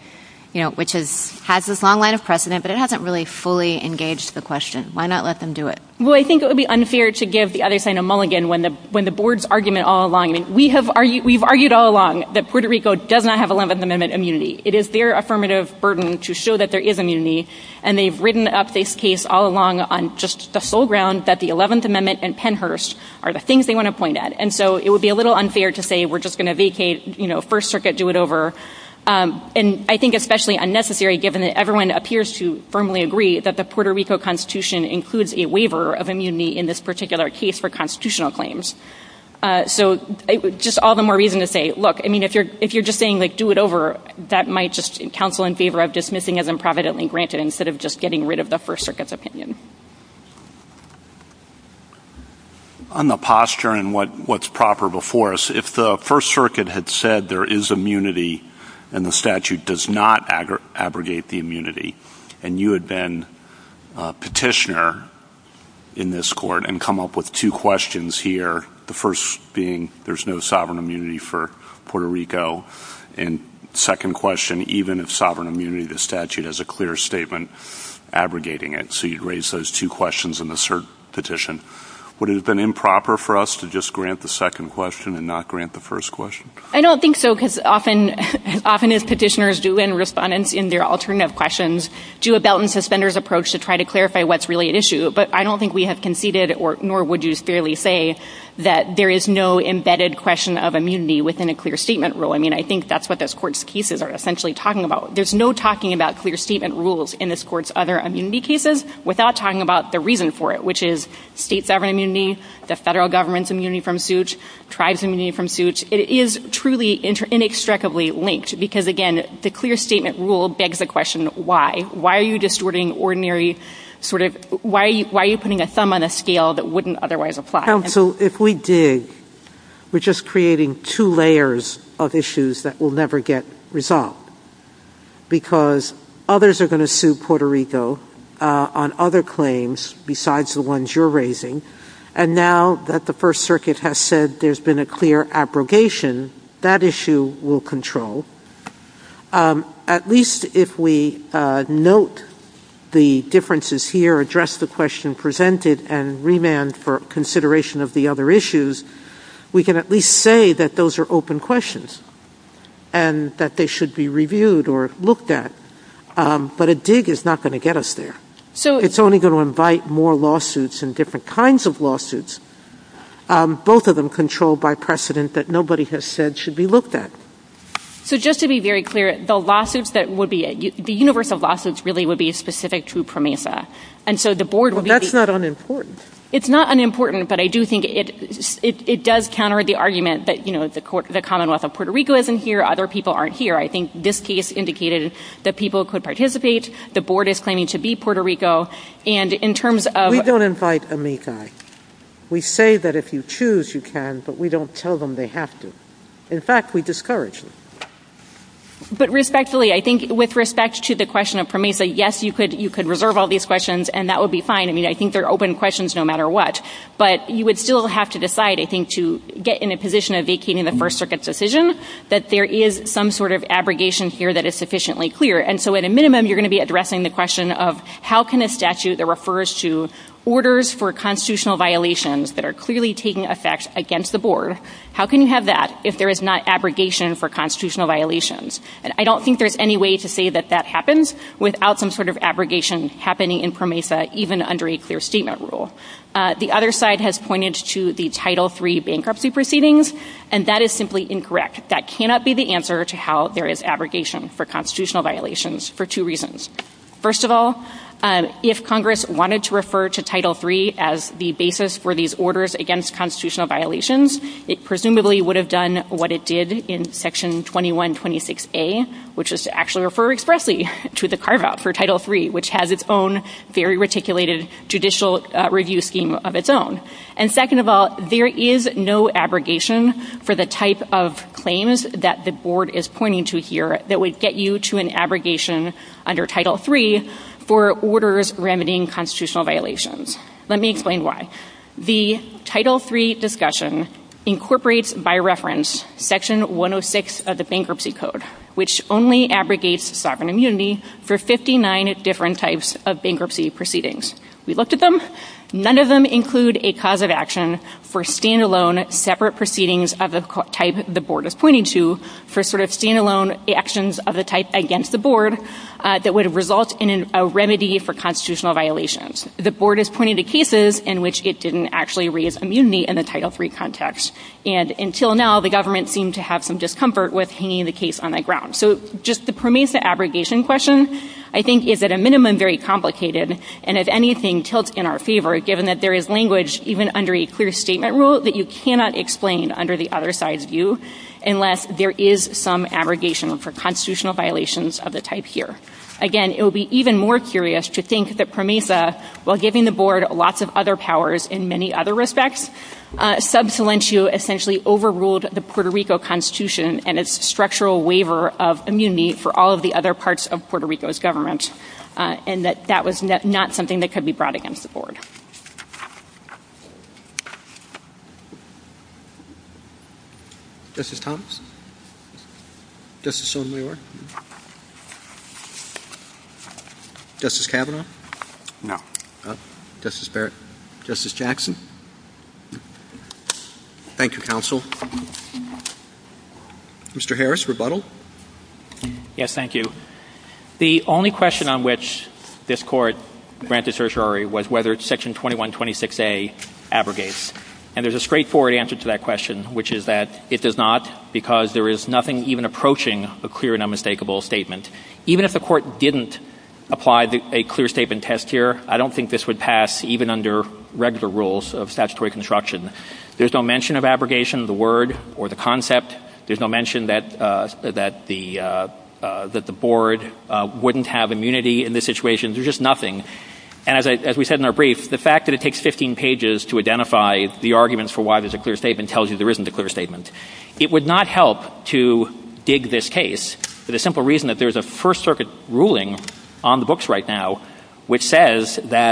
you know, which has this long line of precedent, but it hasn't really fully engaged the question. Why not let them do it? Well, I think it would be unfair to give the other side a mulligan when the board's argument all along, I mean, we have argued, we've argued all along that Puerto Rico does not have Eleventh Amendment immunity. It is their affirmative burden to show that there is immunity, and they've written up this case all along on just the sole ground that the Eleventh Amendment and Pennhurst are the things they want to point at. And so it would be a little unfair to say we're just going to vacate, you know, First Circuit, do it over. And I think especially unnecessary, given that everyone appears to firmly agree that the Puerto Rico Constitution includes a waiver of immunity in this particular case for constitutional claims. So just all the more reason to say, look, I mean, if you're just saying, like, do it over, that might just counsel in favor of dismissing as improvidently granted instead of just getting rid of the First Circuit's opinion. On the posture and what's proper before us, if the First Circuit had said there is immunity and the statute does not abrogate the immunity, and you had been a petitioner in this court and come up with two questions here, the first being there's no sovereign immunity for Puerto Rico, and second question, even if sovereign immunity of the statute has a clear statement abrogating it. So you'd raise those two questions in the cert petition. Would it have been improper for us to just grant the second question and not grant the first question? I don't think so, because often as petitioners do and respondents in their alternative questions, do a belt and suspenders approach to try to clarify what's really at issue. But I don't think we have conceded, nor would you fairly say, that there is no embedded question of immunity within a clear statement rule. I mean, I think that's what this court's cases are essentially talking about. There's no talking about clear statement rules in this court's other immunity cases without talking about the reason for it, which is state sovereign immunity, the federal government's immunity from suit, tribes' immunity from suit. It is truly inextricably linked, because, again, the clear statement rule begs the question, why? Why are you distorting ordinary sort of – why are you putting a thumb on a scale that creating two layers of issues that will never get resolved? Because others are going to sue Puerto Rico on other claims besides the ones you're raising, and now that the First Circuit has said there's been a clear abrogation, that issue will control. At least if we note the differences here, address the question presented, and remand for consideration of the other issues, we can at least say that those are open questions and that they should be reviewed or looked at. But a dig is not going to get us there. It's only going to invite more lawsuits and different kinds of lawsuits, both of them controlled by precedent that nobody has said should be looked at. So just to be very clear, the lawsuits that would be – the universe of lawsuits really would be specific to PROMESA, and so the board would be – Well, that's not important, but I do think it does counter the argument that, you know, the Commonwealth of Puerto Rico isn't here, other people aren't here. I think this case indicated that people could participate, the board is claiming to be Puerto Rico, and in terms of – We don't invite amici. We say that if you choose, you can, but we don't tell them they have to. In fact, we discourage them. But respectfully, I think with respect to the question of PROMESA, yes, you could reserve all these questions and that would be fine. I mean, I think they're open questions no matter what. But you would still have to decide, I think, to get in a position of vacating the First Circuit's decision that there is some sort of abrogation here that is sufficiently clear. And so at a minimum, you're going to be addressing the question of how can a statute that refers to orders for constitutional violations that are clearly taking effect against the board, how can you have that if there is not abrogation for constitutional violations? And I don't think there's any way to say that that happens without some sort of abrogation happening in PROMESA, even under a clear statement rule. The other side has pointed to the Title III bankruptcy proceedings, and that is simply incorrect. That cannot be the answer to how there is abrogation for constitutional violations for two reasons. First of all, if Congress wanted to refer to Title III as the basis for these orders against constitutional violations, it presumably would have done what it did in Section 2126A, which is to actually refer expressly to the carve-out for Title III, which has its own very reticulated judicial review scheme of its own. And second of all, there is no abrogation for the type of claims that the board is pointing to here that would get you to an abrogation under Title III for orders remedying constitutional violations. Let me explain why. The Title III discussion incorporates by reference Section 106 of the Bankruptcy Code, which only abrogates sovereign immunity for 59 different types of bankruptcy proceedings. We looked at them. None of them include a cause of action for standalone separate proceedings of the type the board is pointing to for sort of standalone actions of the type against the board that would result in a remedy for constitutional violations. The board is pointing to cases in which it didn't actually raise immunity in the Title III context, and until now, the government seemed to have some discomfort with hanging the case on the ground. So just the PROMESA abrogation question, I think, is at a minimum very complicated, and if anything, tilts in our favor, given that there is language, even under a clear statement rule, that you cannot explain under the other side's view unless there is some abrogation for constitutional violations of the type here. Again, it would be even more curious to think that PROMESA, while giving the board lots of other powers in many other respects, sub salientio essentially overruled the Puerto Rico Constitution and its structural waiver of immunity for all of the other parts of Puerto Rico's government, and that that was not something that could be brought against the board. Justice Thomas? Justice Sotomayor? Justice Kavanaugh? No. Justice Barrett? Justice Jackson? Thank you, counsel. Mr. Harris, rebuttal? Yes, thank you. The only question on which this Court granted certiorari was whether Section 2126A abrogates, and there's a straightforward answer to that question, which is that it does not, because there is nothing even approaching a clear and unmistakable statement. Even if the would pass even under regular rules of statutory construction. There's no mention of abrogation, the word or the concept. There's no mention that the board wouldn't have immunity in this situation. There's just nothing. And as we said in our brief, the fact that it takes 15 pages to identify the arguments for why there's a clear statement tells you there isn't a clear statement. It would not help to dig this case for the simple reason that there's a First Circuit ruling on the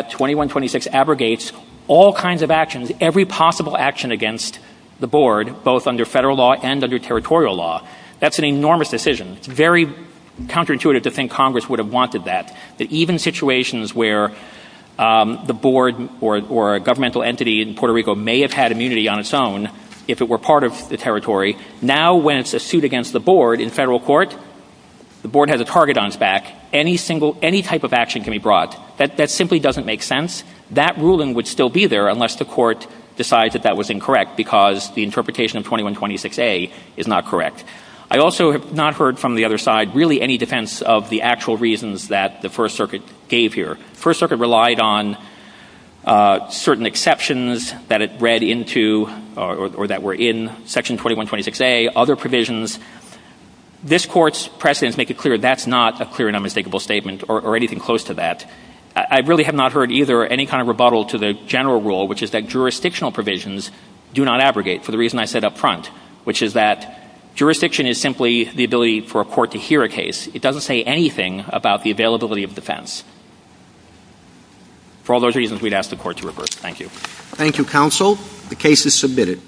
2126 abrogates all kinds of actions, every possible action against the board, both under federal law and under territorial law. That's an enormous decision. It's very counterintuitive to think Congress would have wanted that, that even situations where the board or a governmental entity in Puerto Rico may have had immunity on its own if it were part of the territory, now when it's a suit against the board in federal court, the board has a target on its back. Any type of action can be brought. That simply doesn't make sense. That ruling would still be there unless the court decides that that was incorrect because the interpretation of 2126A is not correct. I also have not heard from the other side really any defense of the actual reasons that the First Circuit gave here. First Circuit relied on certain exceptions that it read into or that were in section 2126A, other provisions. This court's precedents make it clear that's not a clear and anything close to that. I really have not heard either any kind of rebuttal to the general rule, which is that jurisdictional provisions do not abrogate for the reason I said up front, which is that jurisdiction is simply the ability for a court to hear a case. It doesn't say anything about the availability of defense. For all those reasons, we'd ask the court to reverse. Thank you. Thank you, counsel. The case is submitted.